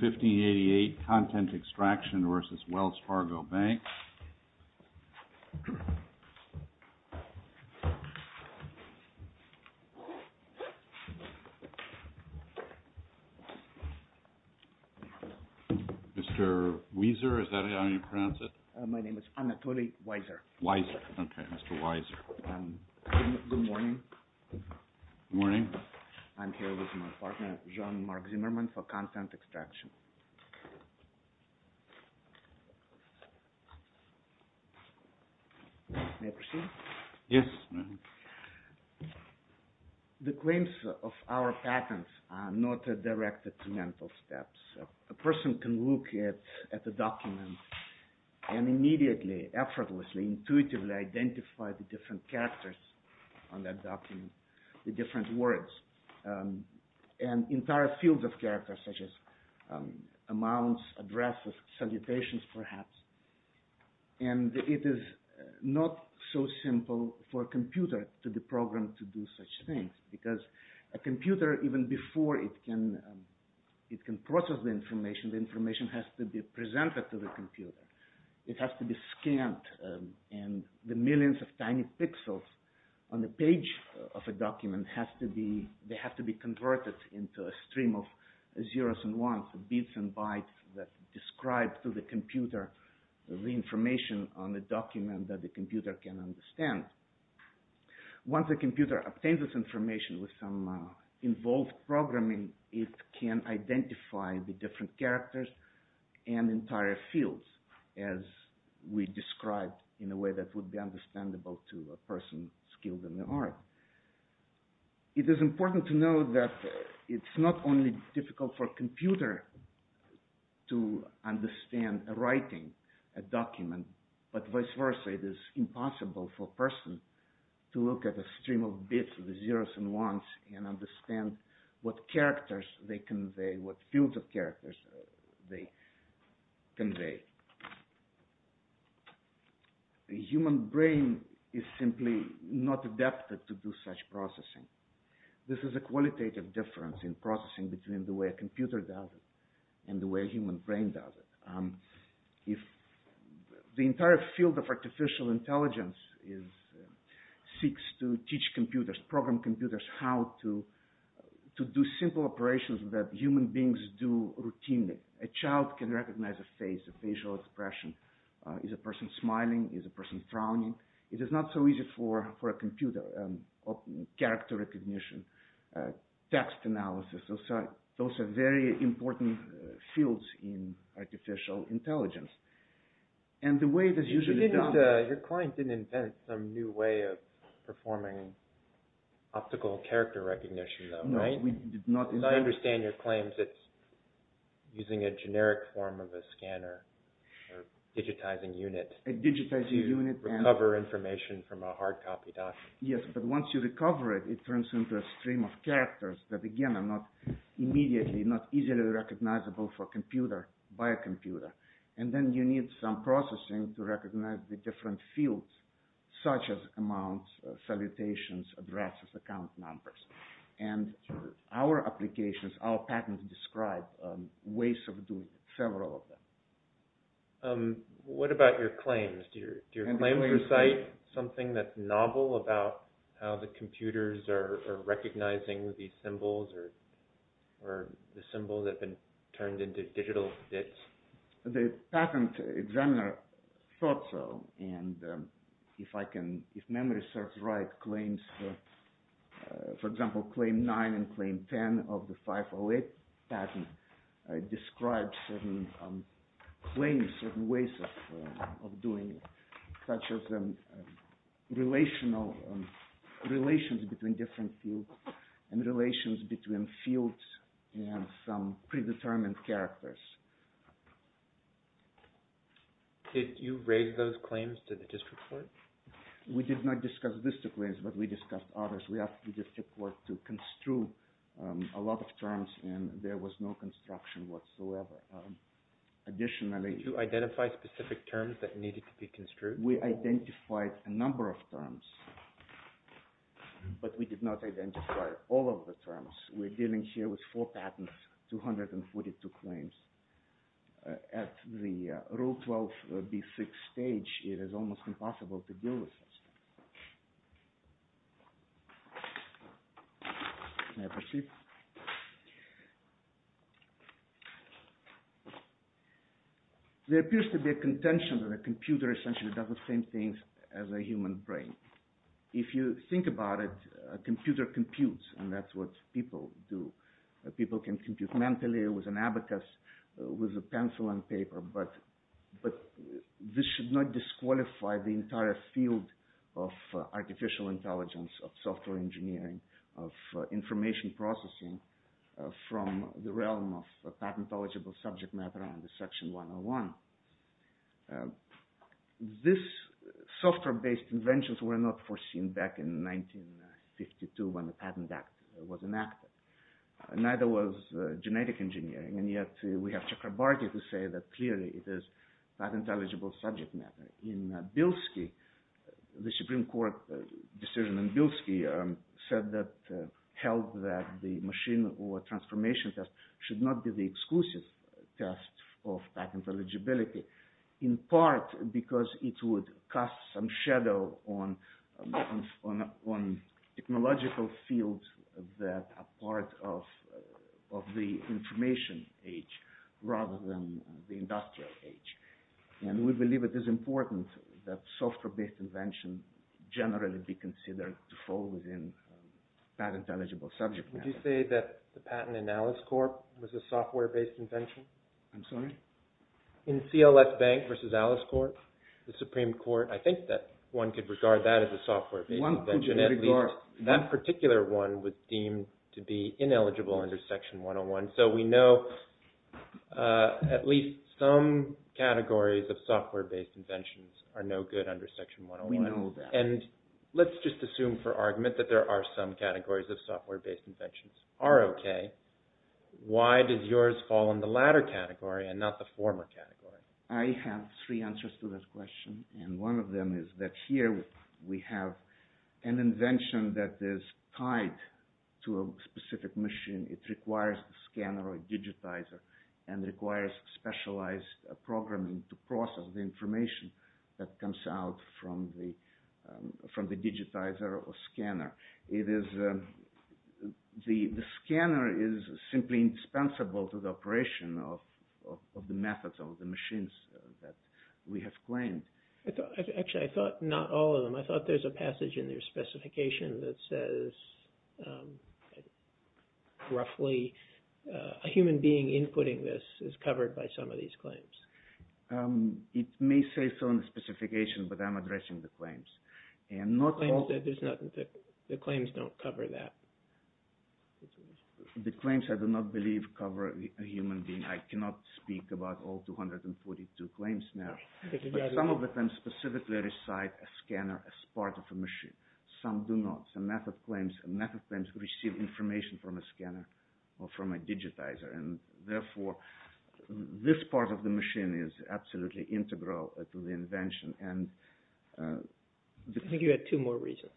1588, Content Extraction v. Wells Fargo Bank. Mr. Wieser, is that how you pronounce it? My name is Anatoly Wieser. Wieser, okay, Mr. Wieser. Good morning. Morning. I'm here with my partner, Jean-Marc Zimmerman, for Content Extraction. May I proceed? Yes. The claims of our patents are not directed to mental steps. A person can look at a document and immediately, effortlessly, intuitively identify the different characters on that document, the different words, and entire fields of characters, such as amounts, addresses, salutations, perhaps. And it is not so simple for a computer to the program to do such things, because a computer, even before it can process the information, the information has to be presented to the computer. It has to be scanned, and the millions of tiny pixels on the page of a document has to be, they have to be converted into a stream of zeros and ones, bits and bytes that describe to the computer the information on the document that the computer can understand. Once the computer obtains this information with some involved programming, it can identify the different characters and entire fields, as we described in a way that would be understandable to a person skilled in the art. It is important to know that it's not only difficult for a computer to understand a writing, a document, but vice versa, it is impossible for a person to look at a stream of bits of zeros and ones and understand what characters they convey, what fields of characters they convey. The human brain is simply not adapted to do such processing. This is a qualitative difference in processing between the way a computer does it and the way a human brain does it. The entire field of artificial intelligence seeks to teach computers, program computers, how to do simple operations that human beings do routinely. A child can recognize a face, a facial expression. Is a person smiling? Is a person frowning? It is not so easy for a computer. Character recognition, text analysis, those are very important fields in artificial intelligence. Your client didn't invent some new way of performing optical character recognition though, right? No, we did not invent it. I understand your claim that it's using a generic form of a scanner, digitizing unit. A digitizing unit. To recover information from a hard copy document. Yes, but once you recover it, it turns into a stream of characters that again are not immediately, not easily recognizable for a computer by a computer. And then you need some processing to recognize the different fields such as amounts, salutations, addresses, account numbers. And our applications, our patents describe ways of doing several of them. What about your claims? Do your claims recite something that's novel about how the computers are recognizing these symbols or the symbols that have been turned into digital bits? The patent examiner thought so and if I can, if memory serves right, claims, for example, claim 9 and claim 10 of the 508 patent describes certain claims, certain ways of doing it. Relational, relations between different fields and relations between fields and some predetermined characters. Did you raise those claims to the district court? We did not discuss district claims, but we discussed others. We asked the district court to construe a lot of terms and there was no construction whatsoever. Additionally... Did you identify specific terms that needed to be construed? We identified a number of terms, but we did not identify all of the terms. We're dealing here with four patents, 242 claims. At the Rule 12, B6 stage, it is almost impossible to deal with this. There appears to be a contention that a computer essentially does the same thing as a human brain. If you think about it, a computer computes and that's what people do. People can compute mentally with an abacus, with a pencil and paper, but this should not disqualify the entire field of artificial intelligence, of software engineering, of information processing from the realm of patent-eligible subject matter under Section 101. These software-based inventions were not foreseen back in 1952 when the Patent Act was enacted. Neither was genetic engineering, and yet we have Chakrabarty to say that clearly it is patent-eligible subject matter. In Bilski, the Supreme Court decision in Bilski held that the machine or transformation test should not be the exclusive test of patent eligibility, in part because it would cast some shadow on technological fields that are part of the information age rather than the industrial age. We believe it is important that software-based inventions generally be considered to fall within patent-eligible subject matter. Could you say that the patent in AliceCorp was a software-based invention? I'm sorry? In CLF Bank versus AliceCorp, the Supreme Court, I think that one could regard that as a software-based invention. One could regard. That particular one was deemed to be ineligible under Section 101, so we know at least some categories of software-based inventions are no good under Section 101. We know that. Let's just assume for argument that there are some categories of software-based inventions that are okay. Why did yours fall in the latter category and not the former category? I have three answers to this question. One of them is that here we have an invention that is tied to a specific machine. It requires a scanner or a digitizer and requires specialized programming to process the information that comes out from the digitizer or scanner. The scanner is simply indispensable to the operation of the methods of the machines that we have claimed. Actually, I thought not all of them. I thought there's a passage in their specification that says roughly a human being inputting this is covered by some of these claims. It may say so in the specification, but I'm addressing the claims. The claims don't cover that. The claims, I do not believe, cover a human being. I cannot speak about all 242 claims now. Some of them specifically recite a scanner as part of a machine. Some do not. Some method claims receive information from a scanner or from a digitizer. Therefore, this part of the machine is absolutely integral to the invention. I think you had two more reasons.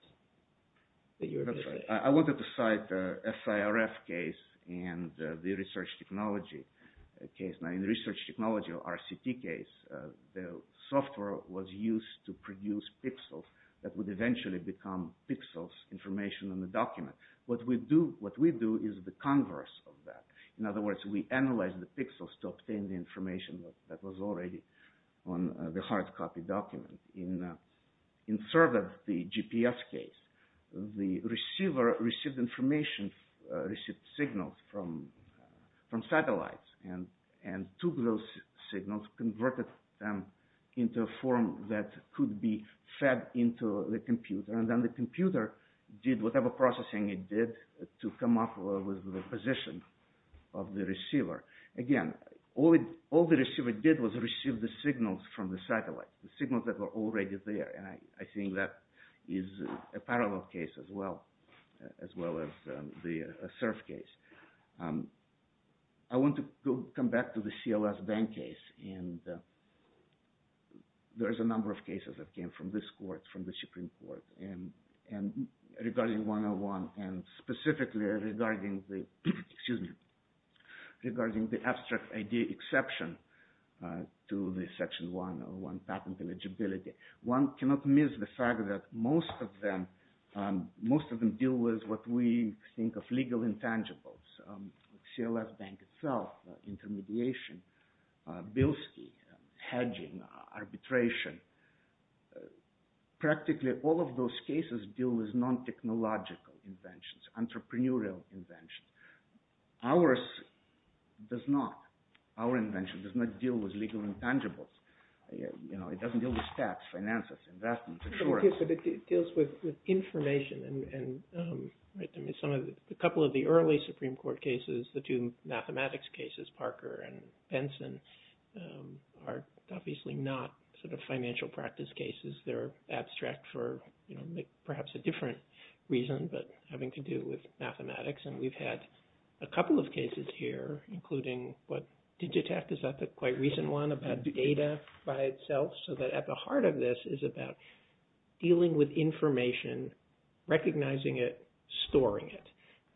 That's right. I wanted to cite the SIRF case and the research technology case. In the research technology, RCT case, the software was used to produce pixels that would eventually become pixels, information in the document. What we do is the converse of that. In other words, we analyze the pixels to obtain the information that was already on the hard copy document. In SIRF, the GPS case, the receiver received information, received signals from satellites and took those signals, converted them into a form that could be fed into the computer. Then the computer did whatever processing it did to come up with the position of the receiver. Again, all the receiver did was receive the signals from the satellite, the signals that were already there. I think that is a parallel case as well, as well as the SIRF case. I want to come back to the CLS bank case. There's a number of cases that came from this court, from the Supreme Court. Regarding 101, and specifically regarding the abstract idea exception to the Section 101 patent eligibility. One cannot miss the fact that most of them deal with what we think of legal intangibles. CLS bank itself, intermediation, Bilski, hedging, arbitration. Practically all of those cases deal with non-technological inventions, entrepreneurial inventions. Ours does not. Our invention does not deal with legal intangibles. It doesn't deal with tax, finances, investments, insurance. It deals with information. A couple of the early Supreme Court cases, the two mathematics cases, Parker and Benson, are obviously not financial practice cases. They're abstract for perhaps a different reason, but having to do with mathematics. We've had a couple of cases here, including Digitech. Is that the quite recent one about data by itself? So that at the heart of this is about dealing with information, recognizing it, storing it.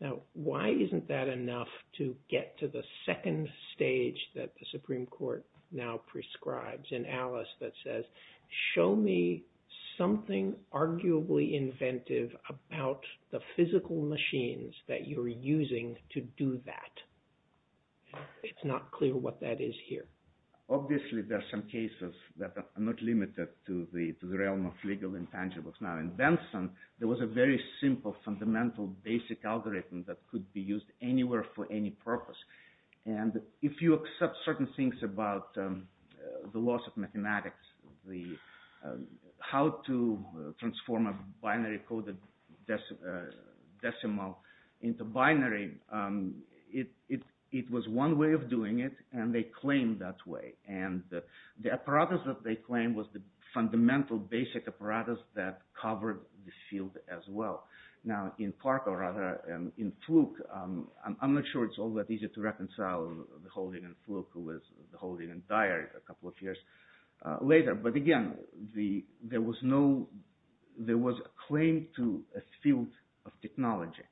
Now, why isn't that enough to get to the second stage that the Supreme Court now prescribes? And Alice that says, show me something arguably inventive about the physical machines that you're using to do that. It's not clear what that is here. Obviously, there are some cases that are not limited to the realm of legal intangibles. Now, in Benson, there was a very simple, fundamental, basic algorithm that could be used anywhere for any purpose. And if you accept certain things about the laws of mathematics, how to transform a binary coded decimal into binary, it was one way of doing it, and they claimed that way. And the apparatus that they claimed was the fundamental, basic apparatus that covered the field as well. Now, in Fluke, I'm not sure it's all that easy to reconcile the holding in Fluke with the holding in Dyer a couple of years later. But again, there was no – there was a claim to a field of technology,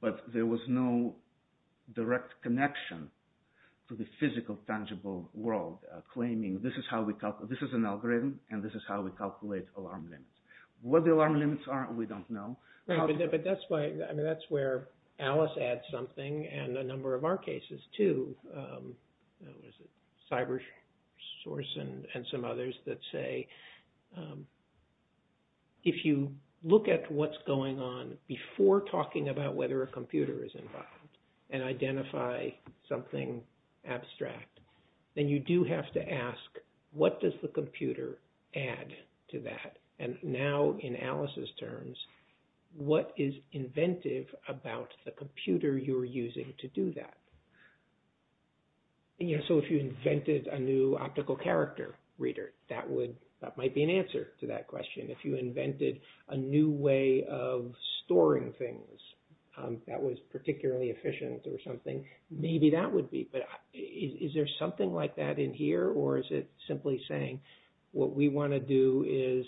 but there was no direct connection to the physical, tangible world, claiming this is how we – this is an algorithm, and this is how we calculate alarm limits. What the alarm limits are, we don't know. But that's why – I mean, that's where Alice adds something, and a number of our cases, too, CyberSource and some others that say, if you look at what's going on before talking about whether a computer is involved and identify something abstract, then you do have to ask, what does the computer add to that? And now, in Alice's terms, what is inventive about the computer you're using to do that? Yeah, so if you invented a new optical character reader, that would – that might be an answer to that question. If you invented a new way of storing things that was particularly efficient or something, maybe that would be. But is there something like that in here, or is it simply saying, what we want to do is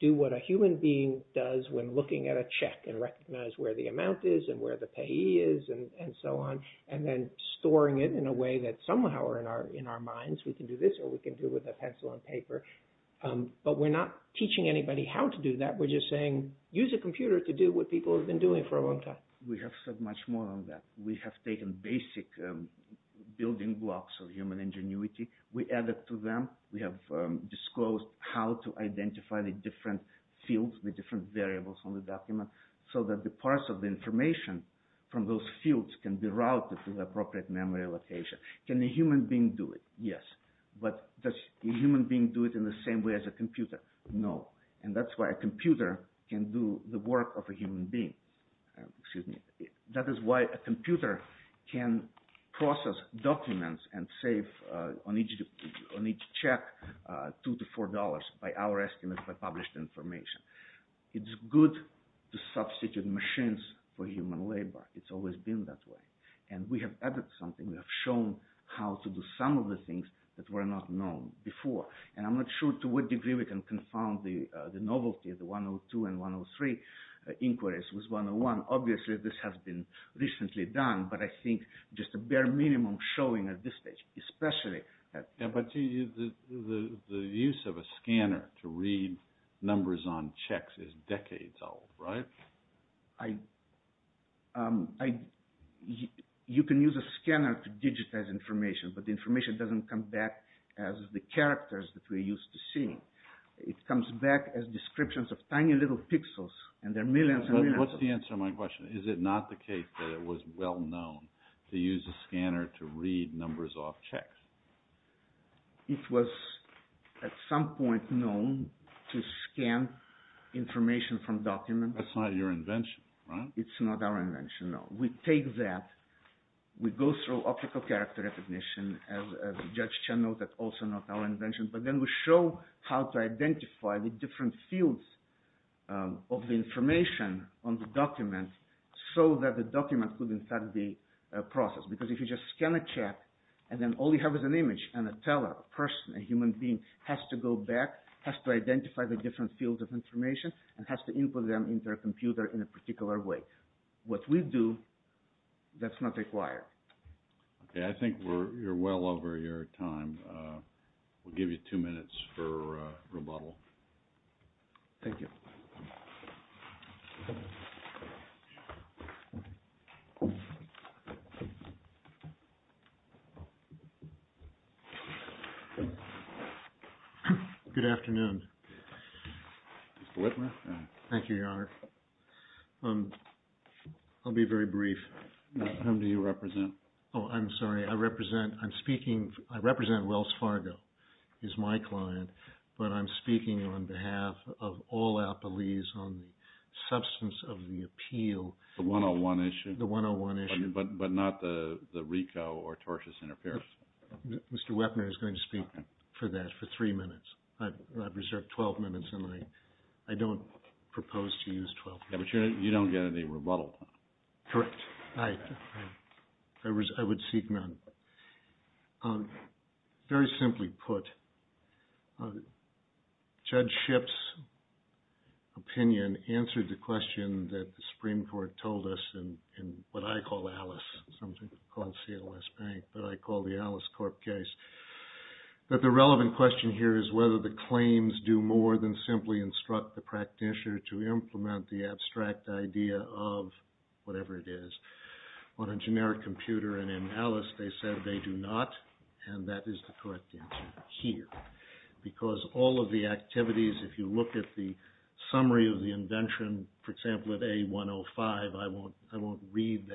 do what a human being does when looking at a check and recognize where the amount is and where the payee is and so on, and then storing it in a way that somehow are in our minds. We can do this, or we can do it with a pencil and paper. But we're not teaching anybody how to do that. We're just saying, use a computer to do what people have been doing for a long time. We have said much more than that. We have taken basic building blocks of human ingenuity. We added to them. We have disclosed how to identify the different fields, the different variables on the document, so that the parts of the information from those fields can be routed to the appropriate memory location. Can a human being do it? Yes. But does a human being do it in the same way as a computer? No. And that's why a computer can do the work of a human being. Excuse me. That is why a computer can process documents and save on each check $2 to $4, by our estimates, by published information. It's good to substitute machines for human labor. It's always been that way. And we have added something. We have shown how to do some of the things that were not known before. And I'm not sure to what degree we can confound the novelty of the 102 and 103 inquiries with 101. Obviously, this has been recently done. But I think just a bare minimum showing at this stage, especially. But the use of a scanner to read numbers on checks is decades old, right? You can use a scanner to digitize information, but the information doesn't come back as the characters that we're used to seeing. It comes back as descriptions of tiny little pixels, and there are millions and millions of them. What's the answer to my question? Is it not the case that it was well known to use a scanner to read numbers off checks? It was at some point known to scan information from documents. That's not your invention, right? It's not our invention, no. We take that. We go through optical character recognition, as Judge Chen noted, also not our invention. But then we show how to identify the different fields of the information on the document so that the document could, in fact, be processed. Because if you just scan a check, and then all you have is an image. A person, a human being, has to go back, has to identify the different fields of information, and has to input them into a computer in a particular way. What we do, that's not required. I think we're well over your time. We'll give you two minutes for rebuttal. Thank you. Good afternoon. Mr. Whitmer. Thank you, Your Honor. I'll be very brief. Whom do you represent? Oh, I'm sorry. I represent Wells Fargo. He's my client. But I'm speaking on behalf of all our police on the substance of the appeal. The 101 issue? The 101 issue. But not the RICO or tortious interference? Mr. Whitmer is going to speak for that for three minutes. I've reserved 12 minutes, and I don't propose to use 12 minutes. But you don't get any rebuttal? Correct. I would seek none. Very simply put, Judge Shipp's opinion answered the question that the Supreme Court told us in what I call ALICE, something called CLS Bank, but I call the ALICE Corp case. But the relevant question here is whether the claims do more than simply instruct the practitioner to implement the abstract idea of whatever it is. On a generic computer and in ALICE they said they do not, and that is the correct answer here. Because all of the activities, if you look at the summary of the invention, for example, of A105, I won't read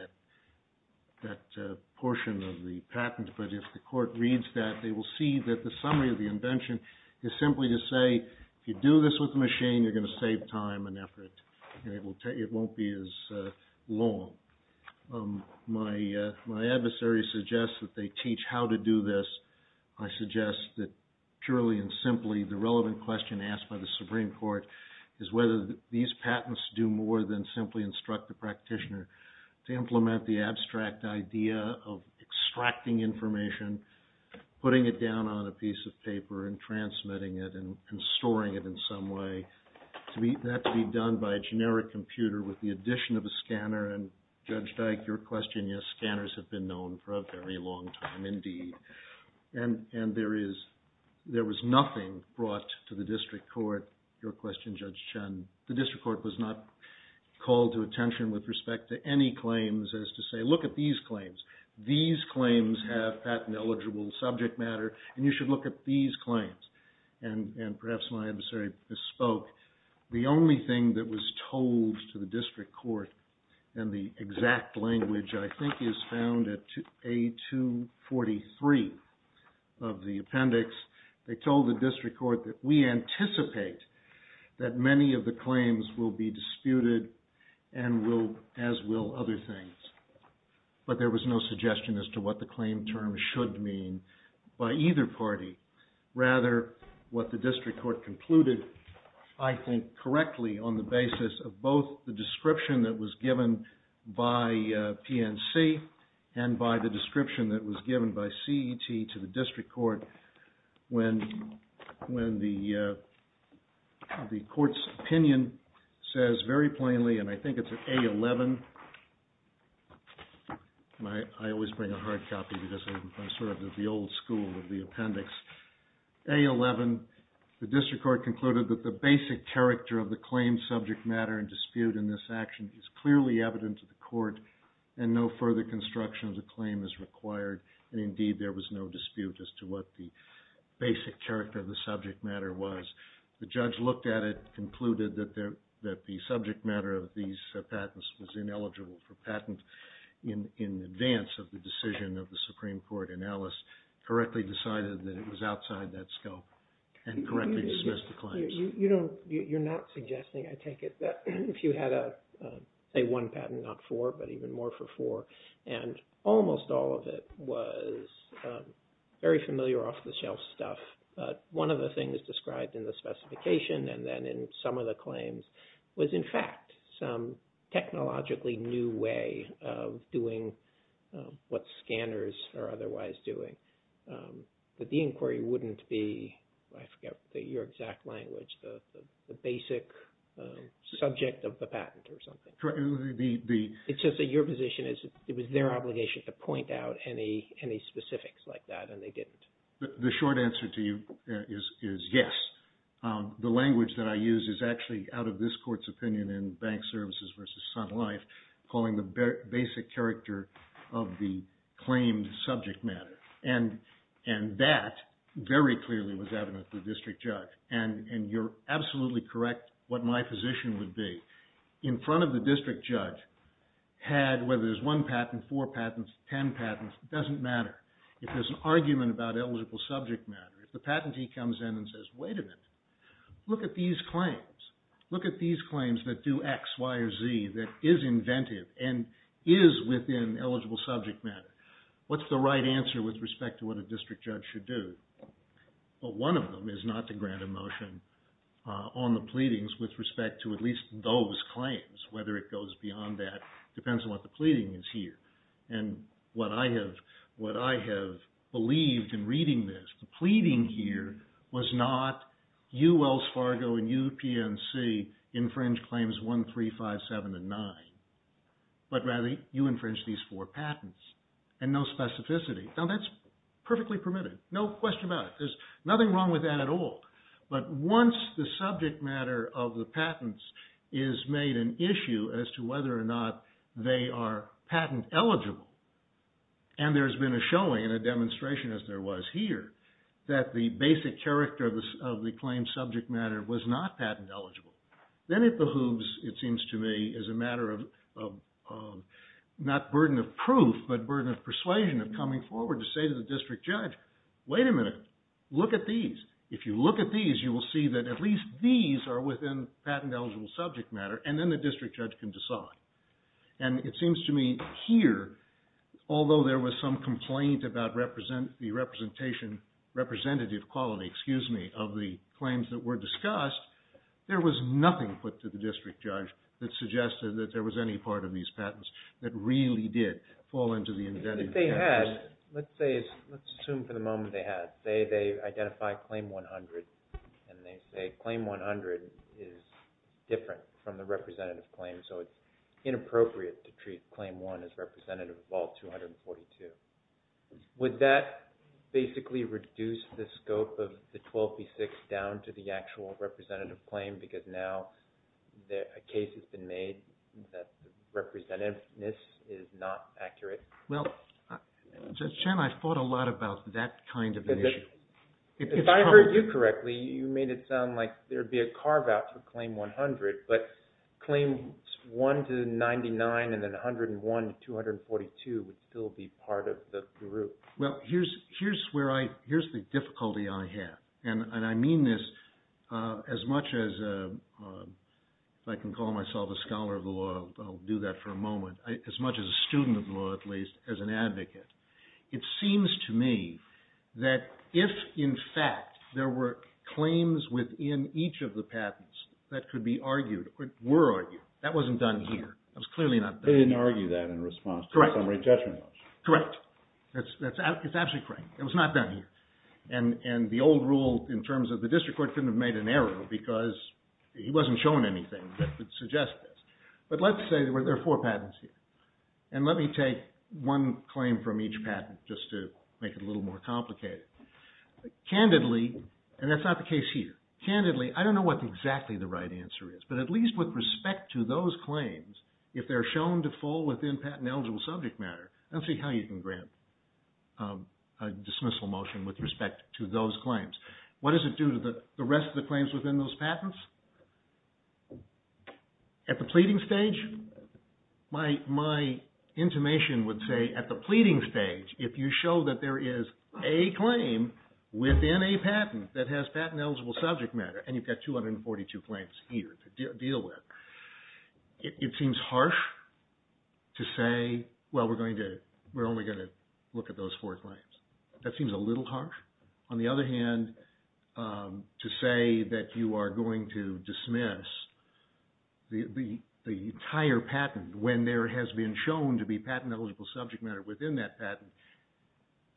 that portion of the patent, but if the court reads that, they will see that the summary of the invention is simply to say, if you do this with a machine, you're going to save time and effort, and it won't be as long. My adversary suggests that they teach how to do this. I suggest that purely and simply the relevant question asked by the Supreme Court is whether these patents do more than simply instruct the practitioner to implement the abstract idea of extracting information, putting it down on a piece of paper, and transmitting it and storing it in some way. That can be done by a generic computer with the addition of a scanner. And Judge Dyke, your question, yes, scanners have been known for a very long time indeed. And there was nothing brought to the district court, your question Judge Chen. The district court was not called to attention with respect to any claims as to say, look at these claims. These claims have patent eligible subject matter, and you should look at these claims. And perhaps my adversary bespoke, the only thing that was told to the district court, and the exact language I think is found at A243 of the appendix, they told the district court that we anticipate that many of the claims will be disputed and will, as will other things. But there was no suggestion as to what the claim term should mean by either party. Rather, what the district court concluded, I think correctly on the basis of both the description that was given by PNC and by the description that was given by CET to the district court when the court's opinion says very plainly, and I think it's at A11, and I always bring a hard copy because I'm sort of the old school of the appendix. A11, the district court concluded that the basic character of the claimed subject matter in dispute in this action is clearly evident to the court and no further construction of the claim is required. And indeed there was no dispute as to what the basic character of the subject matter was. The judge looked at it and concluded that the subject matter of these patents was ineligible for patent in advance of the decision of the Supreme Court, and Ellis correctly decided that it was outside that scope and correctly dismissed the claims. You're not suggesting, I take it, that if you had say one patent, not four, but even more for four, and almost all of it was very familiar off-the-shelf stuff. One of the things described in the specification and then in some of the claims was, in fact, some technologically new way of doing what scanners are otherwise doing. But the inquiry wouldn't be, I forget your exact language, the basic subject of the patent or something. It's just that your position is it was their obligation to point out any specifics like that, and they didn't. The short answer to you is yes. The language that I use is actually out of this court's opinion in Bank Services v. Sun Life, calling the basic character of the claimed subject matter. And that very clearly was evident to the district judge. And you're absolutely correct what my position would be. In front of the district judge had, whether it was one patent, four patents, ten patents, it doesn't matter. If there's an argument about eligible subject matter, if the patentee comes in and says, wait a minute, look at these claims. Look at these claims that do X, Y, or Z that is inventive and is within eligible subject matter. What's the right answer with respect to what a district judge should do? Well, one of them is not to grant a motion on the pleadings with respect to at least those claims, whether it goes beyond that depends on what the pleading is here. And what I have believed in reading this, the pleading here was not you, Wells Fargo, and you, PNC, infringe claims 1, 3, 5, 7, and 9, but rather you infringe these four patents. And no specificity. Now that's perfectly permitted. No question about it. There's nothing wrong with that at all. But once the subject matter of the patents is made an issue as to whether or not they are patent eligible, and there's been a showing and a demonstration, as there was here, that the basic character of the claimed subject matter was not patent eligible, then it behooves, it seems to me, as a matter of not burden of proof, but burden of persuasion of coming forward to say to the district judge, wait a minute, look at these. If you look at these, you will see that at least these are within patent eligible subject matter, and then the district judge can decide. And it seems to me here, although there was some complaint about the representative quality of the claims that were discussed, there was nothing put to the district judge that suggested that there was any part of these patents that really did fall into the indented. Let's assume for the moment they had. Say they identified Claim 100, and they say Claim 100 is different from the representative claim, so it's inappropriate to treat Claim 1 as representative of all 242. Would that basically reduce the scope of the 12B6 down to the actual representative claim, because now a case has been made that the representativeness is not accurate? Well, Chen, I thought a lot about that kind of an issue. If I heard you correctly, you made it sound like there would be a carve out for Claim 100, but Claim 1 to 99 and then 101 to 242 would still be part of the group. Well, here's the difficulty I have, and I mean this as much as I can call myself a scholar of the law, I'll do that for a moment, as much as a student of the law at least, as an advocate. It seems to me that if, in fact, there were claims within each of the patents that could be argued, were argued, that wasn't done here. It was clearly not done here. They didn't argue that in response to some rate judgment motion. Correct. It's absolutely correct. It was not done here. And the old rule in terms of the district court couldn't have made an error because he wasn't showing anything that would suggest this. But let's say there were four patents here. And let me take one claim from each patent just to make it a little more complicated. Candidly, and that's not the case here, candidly, I don't know what exactly the right answer is, but at least with respect to those claims, if they're shown to fall within patent eligible subject matter, let's see how you can grant a dismissal motion with respect to those claims. What does it do to the rest of the claims within those patents? At the pleading stage, my intimation would say at the pleading stage, if you show that there is a claim within a patent that has patent eligible subject matter, and you've got 242 claims here to deal with, it seems harsh to say, well, we're only going to look at those four claims. That seems a little harsh. On the other hand, to say that you are going to dismiss the entire patent when there has been shown to be patent eligible subject matter within that patent,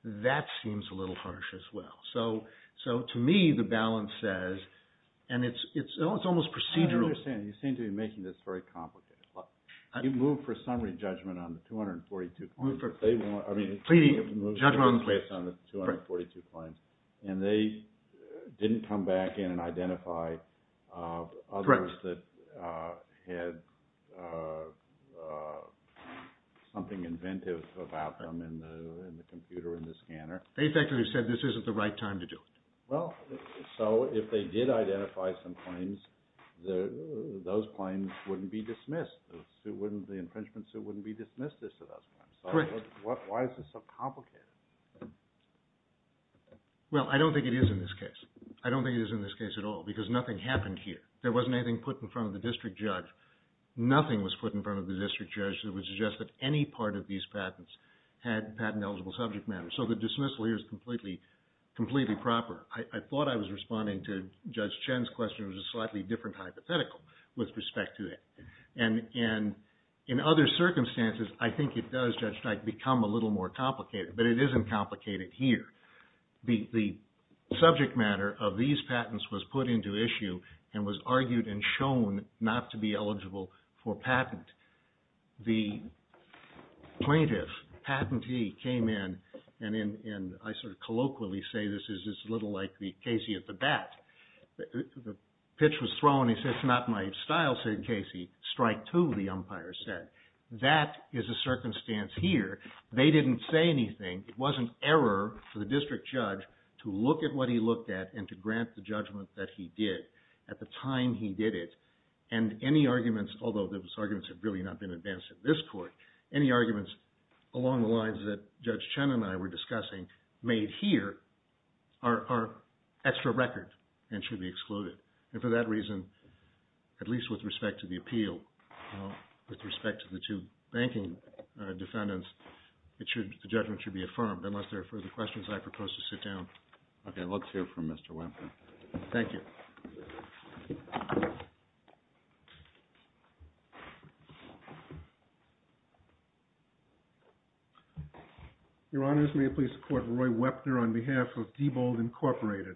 that seems a little harsh as well. So to me, the balance says, and it's almost procedural. I don't understand. You seem to be making this very complicated. You moved for summary judgment on the 242 claims. Pleading judgment on the 242 claims. And they didn't come back in and identify others that had something inventive about them in the computer, in the scanner. They effectively said this isn't the right time to do it. Well, so if they did identify some claims, those claims wouldn't be dismissed. The infringement suit wouldn't be dismissed as to those claims. Correct. Why is this so complicated? Well, I don't think it is in this case. I don't think it is in this case at all because nothing happened here. There wasn't anything put in front of the district judge. Nothing was put in front of the district judge that would suggest that any part of these patents had patent eligible subject matter. So the dismissal here is completely proper. I thought I was responding to Judge Chen's question. It was a slightly different hypothetical with respect to it. And in other circumstances, I think it does, Judge Stein, become a little more complicated. But it isn't complicated here. The subject matter of these patents was put into issue and was argued and shown not to be eligible for patent. The plaintiff, patentee, came in and I sort of colloquially say this is a little like the Casey at the bat. The pitch was thrown. He said, it's not my style, said Casey. Strike two, the umpire said. That is a circumstance here. They didn't say anything. It wasn't error for the district judge to look at what he looked at and to grant the judgment that he did at the time he did it. And any arguments, although those arguments have really not been advanced in this court, any arguments along the lines that Judge Chen and I were discussing made here are extra record and should be excluded. And for that reason, at least with respect to the appeal, with respect to the two banking defendants, the judgment should be affirmed. Unless there are further questions, I propose to sit down. Okay. Let's hear from Mr. Wentworth. Thank you. Your Honors, may I please support Roy Wepner on behalf of Diebold Incorporated.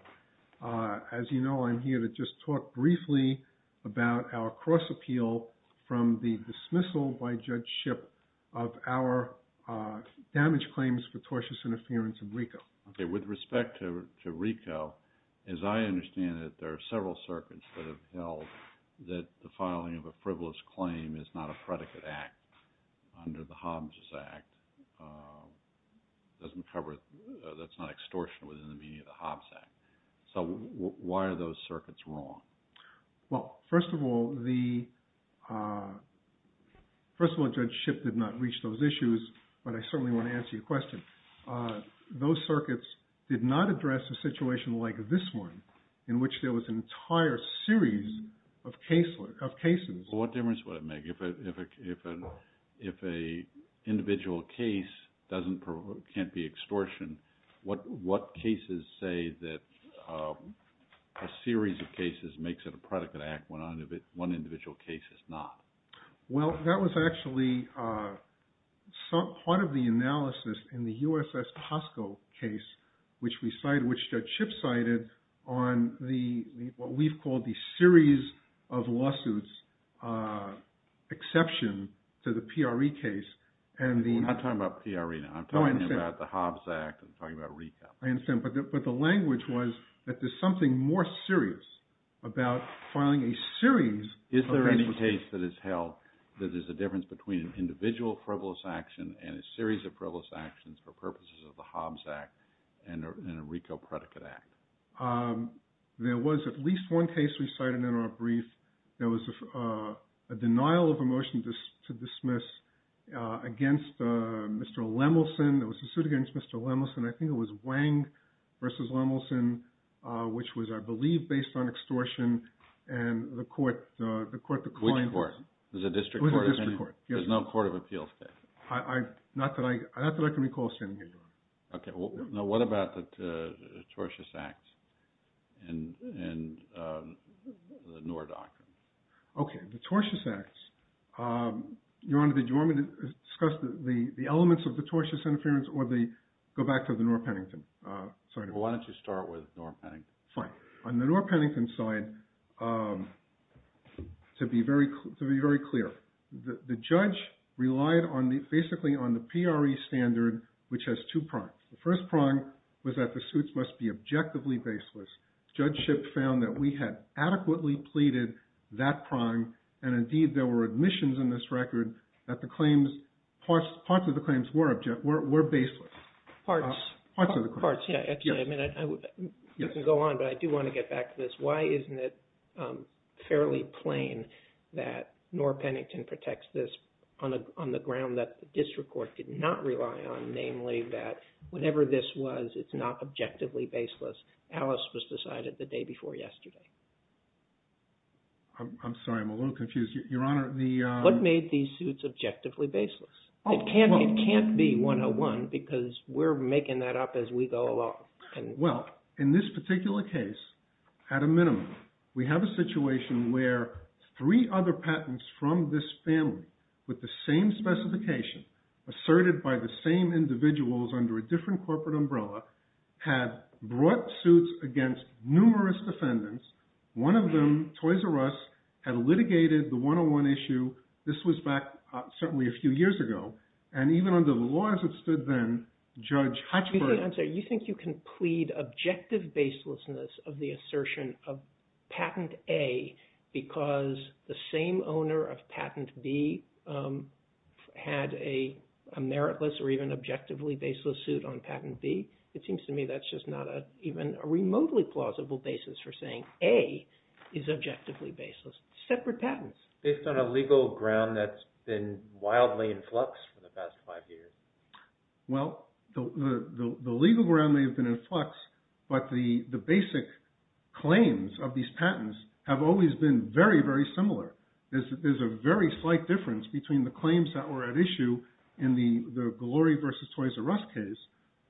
As you know, I'm here to just talk briefly about our cross-appeal from the dismissal by Judge Shipp of our damage claims for tortious interference in RICO. Okay. With respect to RICO, as I understand it, there are several circuits that have held that the filing of a frivolous claim is not a predicate act under the Hobbs Act. That's not extortion within the meaning of the Hobbs Act. So why are those circuits wrong? Well, first of all, Judge Shipp did not reach those issues, but I certainly want to answer your question. Those circuits did not address a situation like this one, in which there was an entire series of cases. Well, what difference would it make? If an individual case can't be extortion, what cases say that a series of cases makes it a predicate act when one individual case is not? Well, that was actually part of the analysis in the USS Costco case, which Judge Shipp cited on what we've called the series of lawsuits exception to the PRE case. I'm not talking about PRE now. I'm talking about the Hobbs Act. I'm talking about RICO. I understand. But the language was that there's something more serious about filing a series of cases. Is there any case that is held that there's a difference between an individual frivolous action and a series of frivolous actions for purposes of the Hobbs Act and a RICO predicate act? There was at least one case we cited in our brief that was a denial of a motion to dismiss against Mr. Lemelson. It was a suit against Mr. Lemelson. I think it was Wang versus Lemelson, which was, I believe, based on extortion. And the court declined. Which court? Was it a district court? It was a district court. There's no court of appeals case? Not that I can recall standing here, Your Honor. Okay. Now, what about the tortious acts and the Noor doctrine? Okay. The tortious acts. Your Honor, do you want me to discuss the elements of the tortious interference or go back to the Noor-Pennington? Why don't you start with Noor-Pennington? Fine. On the Noor-Pennington side, to be very clear, the judge relied basically on the PRE standard, which has two prongs. The first prong was that the suits must be objectively baseless. Judge Shipp found that we had adequately pleaded that prong, and indeed there were admissions in this record that the claims, parts of the claims were baseless. Parts. Parts of the claims. Parts, yes. You can go on, but I do want to get back to this. Why isn't it fairly plain that Noor-Pennington protects this on the ground that the district court did not rely on, namely that whatever this was, it's not objectively baseless. Alice was decided the day before yesterday. I'm sorry. I'm a little confused. Your Honor, the… What made these suits objectively baseless? It can't be 101 because we're making that up as we go along. Well, in this particular case, at a minimum, we have a situation where three other patents from this family with the same specification asserted by the same individuals under a different corporate umbrella had brought suits against numerous defendants. One of them, Toys R Us, had litigated the 101 issue. This was back certainly a few years ago, and even under the laws that stood then, Judge Hutchford… I'm sorry. You think you can plead objective baselessness of the assertion of Patent A because the same owner of Patent B had a meritless or even objectively baseless suit on Patent B? It seems to me that's just not even a remotely plausible basis for saying A is objectively baseless. Separate patents. Based on a legal ground that's been wildly in flux for the past five years. Well, the legal ground may have been in flux, but the basic claims of these patents have always been very, very similar. There's a very slight difference between the claims that were at issue in the Glory versus Toys R Us case,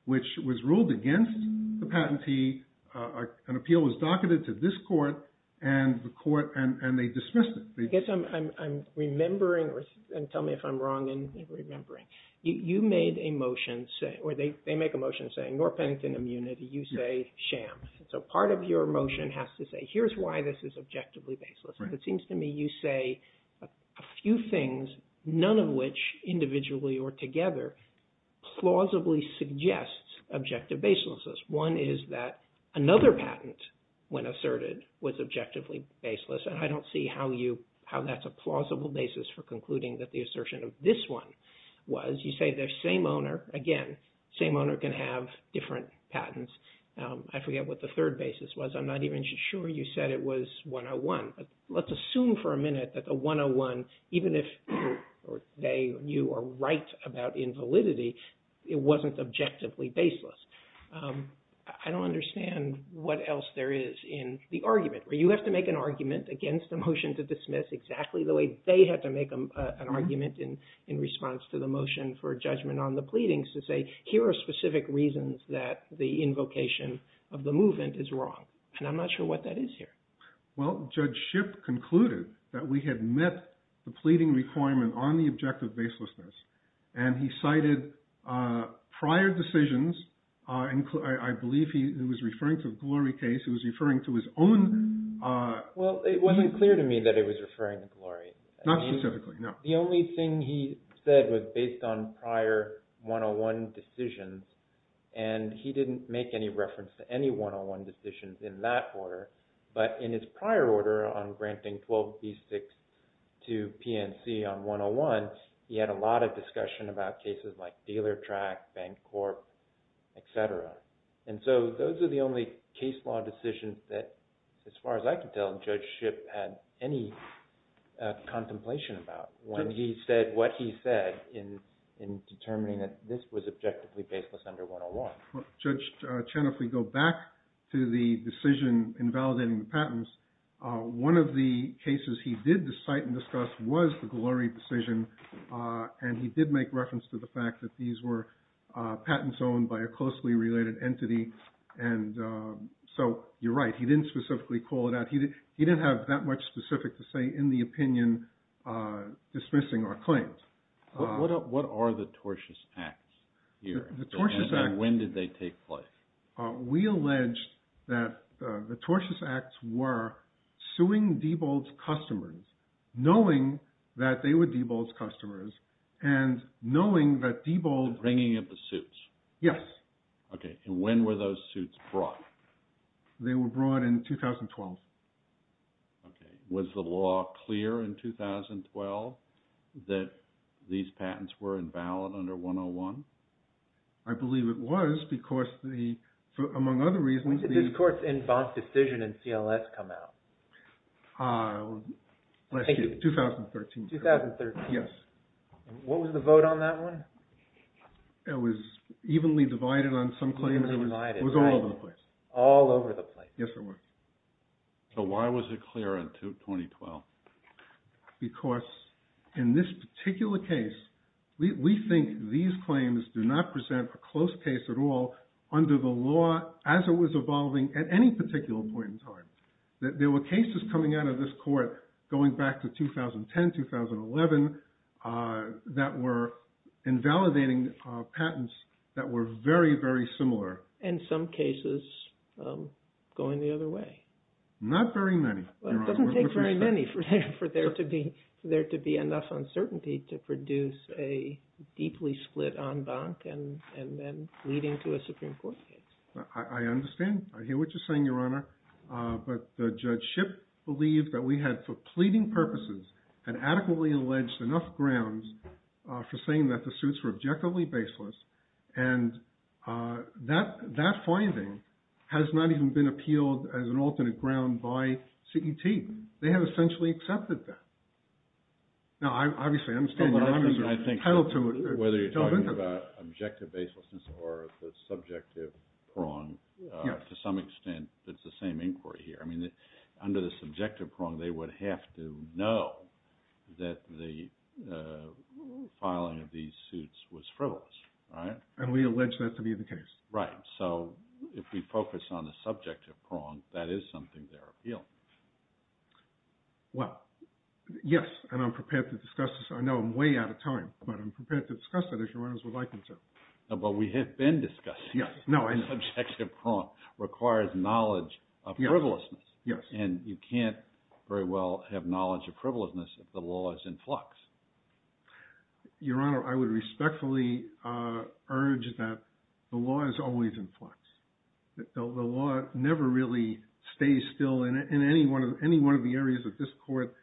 which was ruled against the patentee. An appeal was docketed to this court and the court, and they dismissed it. I guess I'm remembering, and tell me if I'm wrong in remembering. You made a motion, or they make a motion saying, nor Pennington immunity, you say sham. So part of your motion has to say, here's why this is objectively baseless. It seems to me you say a few things, none of which individually or together, plausibly suggests objective baselessness. One is that another patent, when asserted, was objectively baseless. And I don't see how that's a plausible basis for concluding that the assertion of this one was. You say the same owner, again, same owner can have different patents. I forget what the third basis was. I'm not even sure you said it was 101. Let's assume for a minute that the 101, even if they knew or write about invalidity, it wasn't objectively baseless. I don't understand what else there is in the argument. You have to make an argument against a motion to dismiss exactly the way they had to make an argument in response to the motion for judgment on the pleadings to say, here are specific reasons that the invocation of the movement is wrong. And I'm not sure what that is here. Well, Judge Shipp concluded that we had met the pleading requirement on the objective baselessness, and he cited prior decisions. I believe he was referring to the Glory case. He was referring to his own… Well, it wasn't clear to me that he was referring to Glory. Not specifically, no. The only thing he said was based on prior 101 decisions, and he didn't make any reference to any 101 decisions in that order. But in his prior order on granting 12B6 to PNC on 101, he had a lot of discussion about cases like Dealer Track, Bancorp, etc. And so those are the only case law decisions that, as far as I can tell, Judge Shipp had any contemplation about when he said what he said in determining that this was objectively baseless under 101. Judge Chen, if we go back to the decision invalidating the patents, one of the cases he did cite and discuss was the Glory decision. And he did make reference to the fact that these were patents owned by a closely related entity. And so you're right, he didn't specifically call it out. He didn't have that much specific to say in the opinion dismissing our claims. What are the tortious acts here? And when did they take place? We allege that the tortious acts were suing Diebold's customers, knowing that they were Diebold's customers, and knowing that Diebold… Bringing up the suits. Yes. Okay, and when were those suits brought? They were brought in 2012. Okay. Was the law clear in 2012 that these patents were invalid under 101? I believe it was, because among other reasons… When did this court's in-box decision in CLS come out? Last year, 2013. 2013. Yes. What was the vote on that one? It was evenly divided on some claims. Evenly divided, right. It was all over the place. All over the place. Yes, it was. So why was it clear in 2012? Because in this particular case, we think these claims do not present a close case at all under the law as it was evolving at any particular point in time. There were cases coming out of this court going back to 2010, 2011, that were invalidating patents that were very, very similar. And some cases going the other way. Not very many. It doesn't take very many for there to be enough uncertainty to produce a deeply split en banc and then leading to a Supreme Court case. I understand. I hear what you're saying, Your Honor. But Judge Shipp believed that we had, for pleading purposes, had adequately alleged enough grounds for saying that the suits were objectively baseless. And that finding has not even been appealed as an alternate ground by CET. They have essentially accepted that. Now, I obviously understand. Whether you're talking about objective baselessness or the subjective prong, to some extent, it's the same inquiry here. Under the subjective prong, they would have to know that the filing of these suits was frivolous, right? And we allege that to be the case. Right. So if we focus on the subjective prong, that is something they're appealing. Well, yes. And I'm prepared to discuss this. I know I'm way out of time, but I'm prepared to discuss it if Your Honors would like me to. But we have been discussing it. The subjective prong requires knowledge of frivolousness. Yes. And you can't very well have knowledge of frivolousness if the law is in flux. Your Honor, I would respectfully urge that the law is always in flux. The law never really stays still in any one of the areas that this Court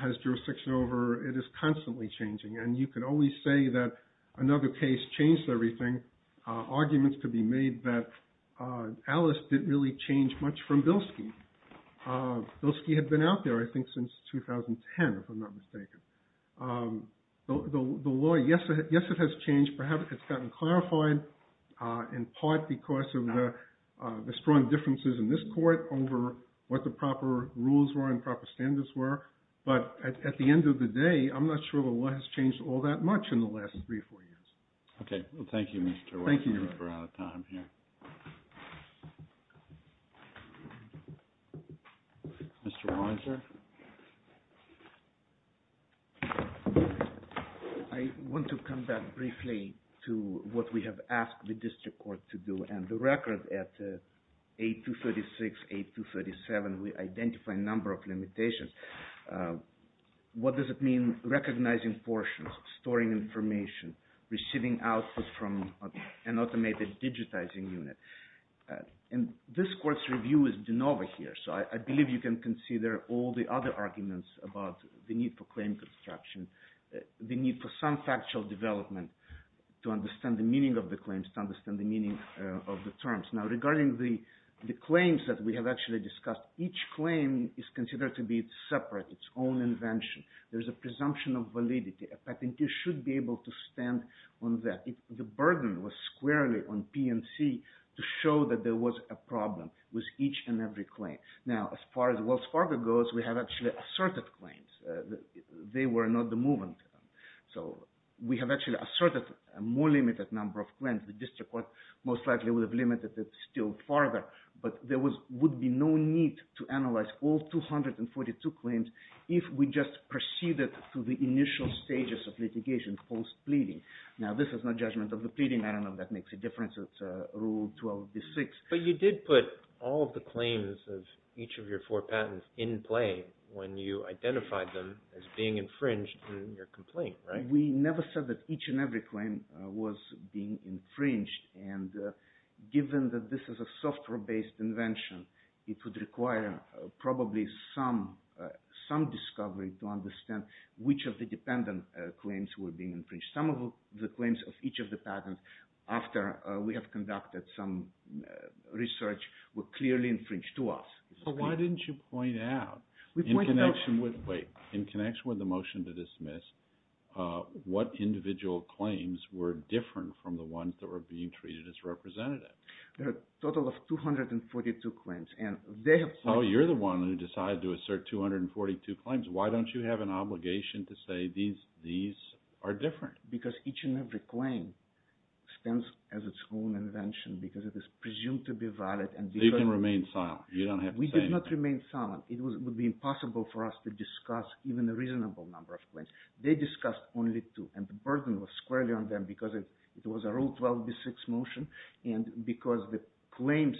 has jurisdiction over. It is constantly changing. And you could always say that another case changed everything. Arguments could be made that Alice didn't really change much from Bilski. Bilski had been out there, I think, since 2010, if I'm not mistaken. The law, yes, it has changed. Perhaps it's gotten clarified in part because of the strong differences in this Court over what the proper rules were and proper standards were. But at the end of the day, I'm not sure the law has changed all that much in the last three or four years. Okay. Well, thank you, Mr. Weiser. Thank you. We're out of time here. Mr. Weiser? I want to come back briefly to what we have asked the District Court to do. And the record at 8236, 8237, we identified a number of limitations. What does it mean recognizing portions, storing information, receiving output from an automated digitizing unit? And this Court's review has been over here. So I believe you can consider all the other arguments about the need for claim construction, the need for some factual development to understand the meaning of the claims, to understand the meaning of the terms. Now, regarding the claims that we have actually discussed, each claim is considered to be separate, its own invention. There's a presumption of validity. A patentee should be able to stand on that. The burden was squarely on P&C to show that there was a problem with each and every claim. Now, as far as Wells Fargo goes, we have actually asserted claims. They were not the movement. So we have actually asserted a more limited number of claims. The District Court most likely would have limited it still farther, but there would be no need to analyze all 242 claims if we just proceeded to the initial stages of litigation, post-pleading. Now, this is not judgment of the pleading. I don't know if that makes a difference. It's Rule 12d6. But you did put all of the claims of each of your four patents in play when you identified them as being infringed in your complaint, right? We never said that each and every claim was being infringed. And given that this is a software-based invention, it would require probably some discovery to understand which of the dependent claims were being infringed. Some of the claims of each of the patents, after we have conducted some research, were clearly infringed to us. So why didn't you point out in connection with the motion to dismiss what individual claims were different from the ones that were being treated as representative? There are a total of 242 claims. Oh, you're the one who decided to assert 242 claims. Why don't you have an obligation to say these are different? Because each and every claim stands as its own invention because it is presumed to be valid. So you can remain silent. You don't have to say anything. We did not remain silent. It would be impossible for us to discuss even a reasonable number of claims. They discussed only two, and the burden was squarely on them because it was a Rule 12d6 motion and because the claims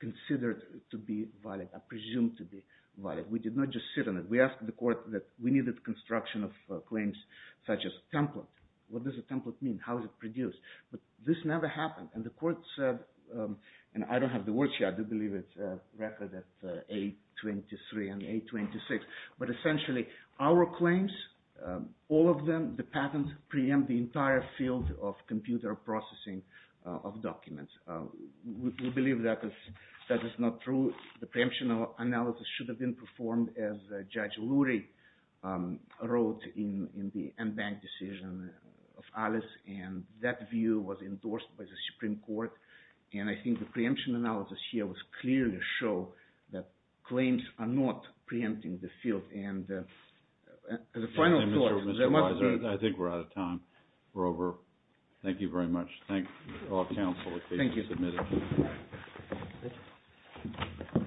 considered to be valid are presumed to be valid. We did not just sit on it. We asked the court that we needed construction of claims such as a template. What does a template mean? How is it produced? But this never happened, and the court said, and I don't have the words here. I do believe it's a record of A23 and A26, but essentially our claims, all of them, the patents, preempt the entire field of computer processing of documents. We believe that is not true. The preemption analysis should have been performed as Judge Lurie wrote in the en banc decision of Alice, and that view was endorsed by the Supreme Court, and I think the preemption analysis here was clear to show that claims are not preempting the field. And as a final thought, there must be— Mr. Weiser, I think we're out of time. We're over. Thank you very much. Thank all counsel. Thank you. Thank you, Mr. Chairman.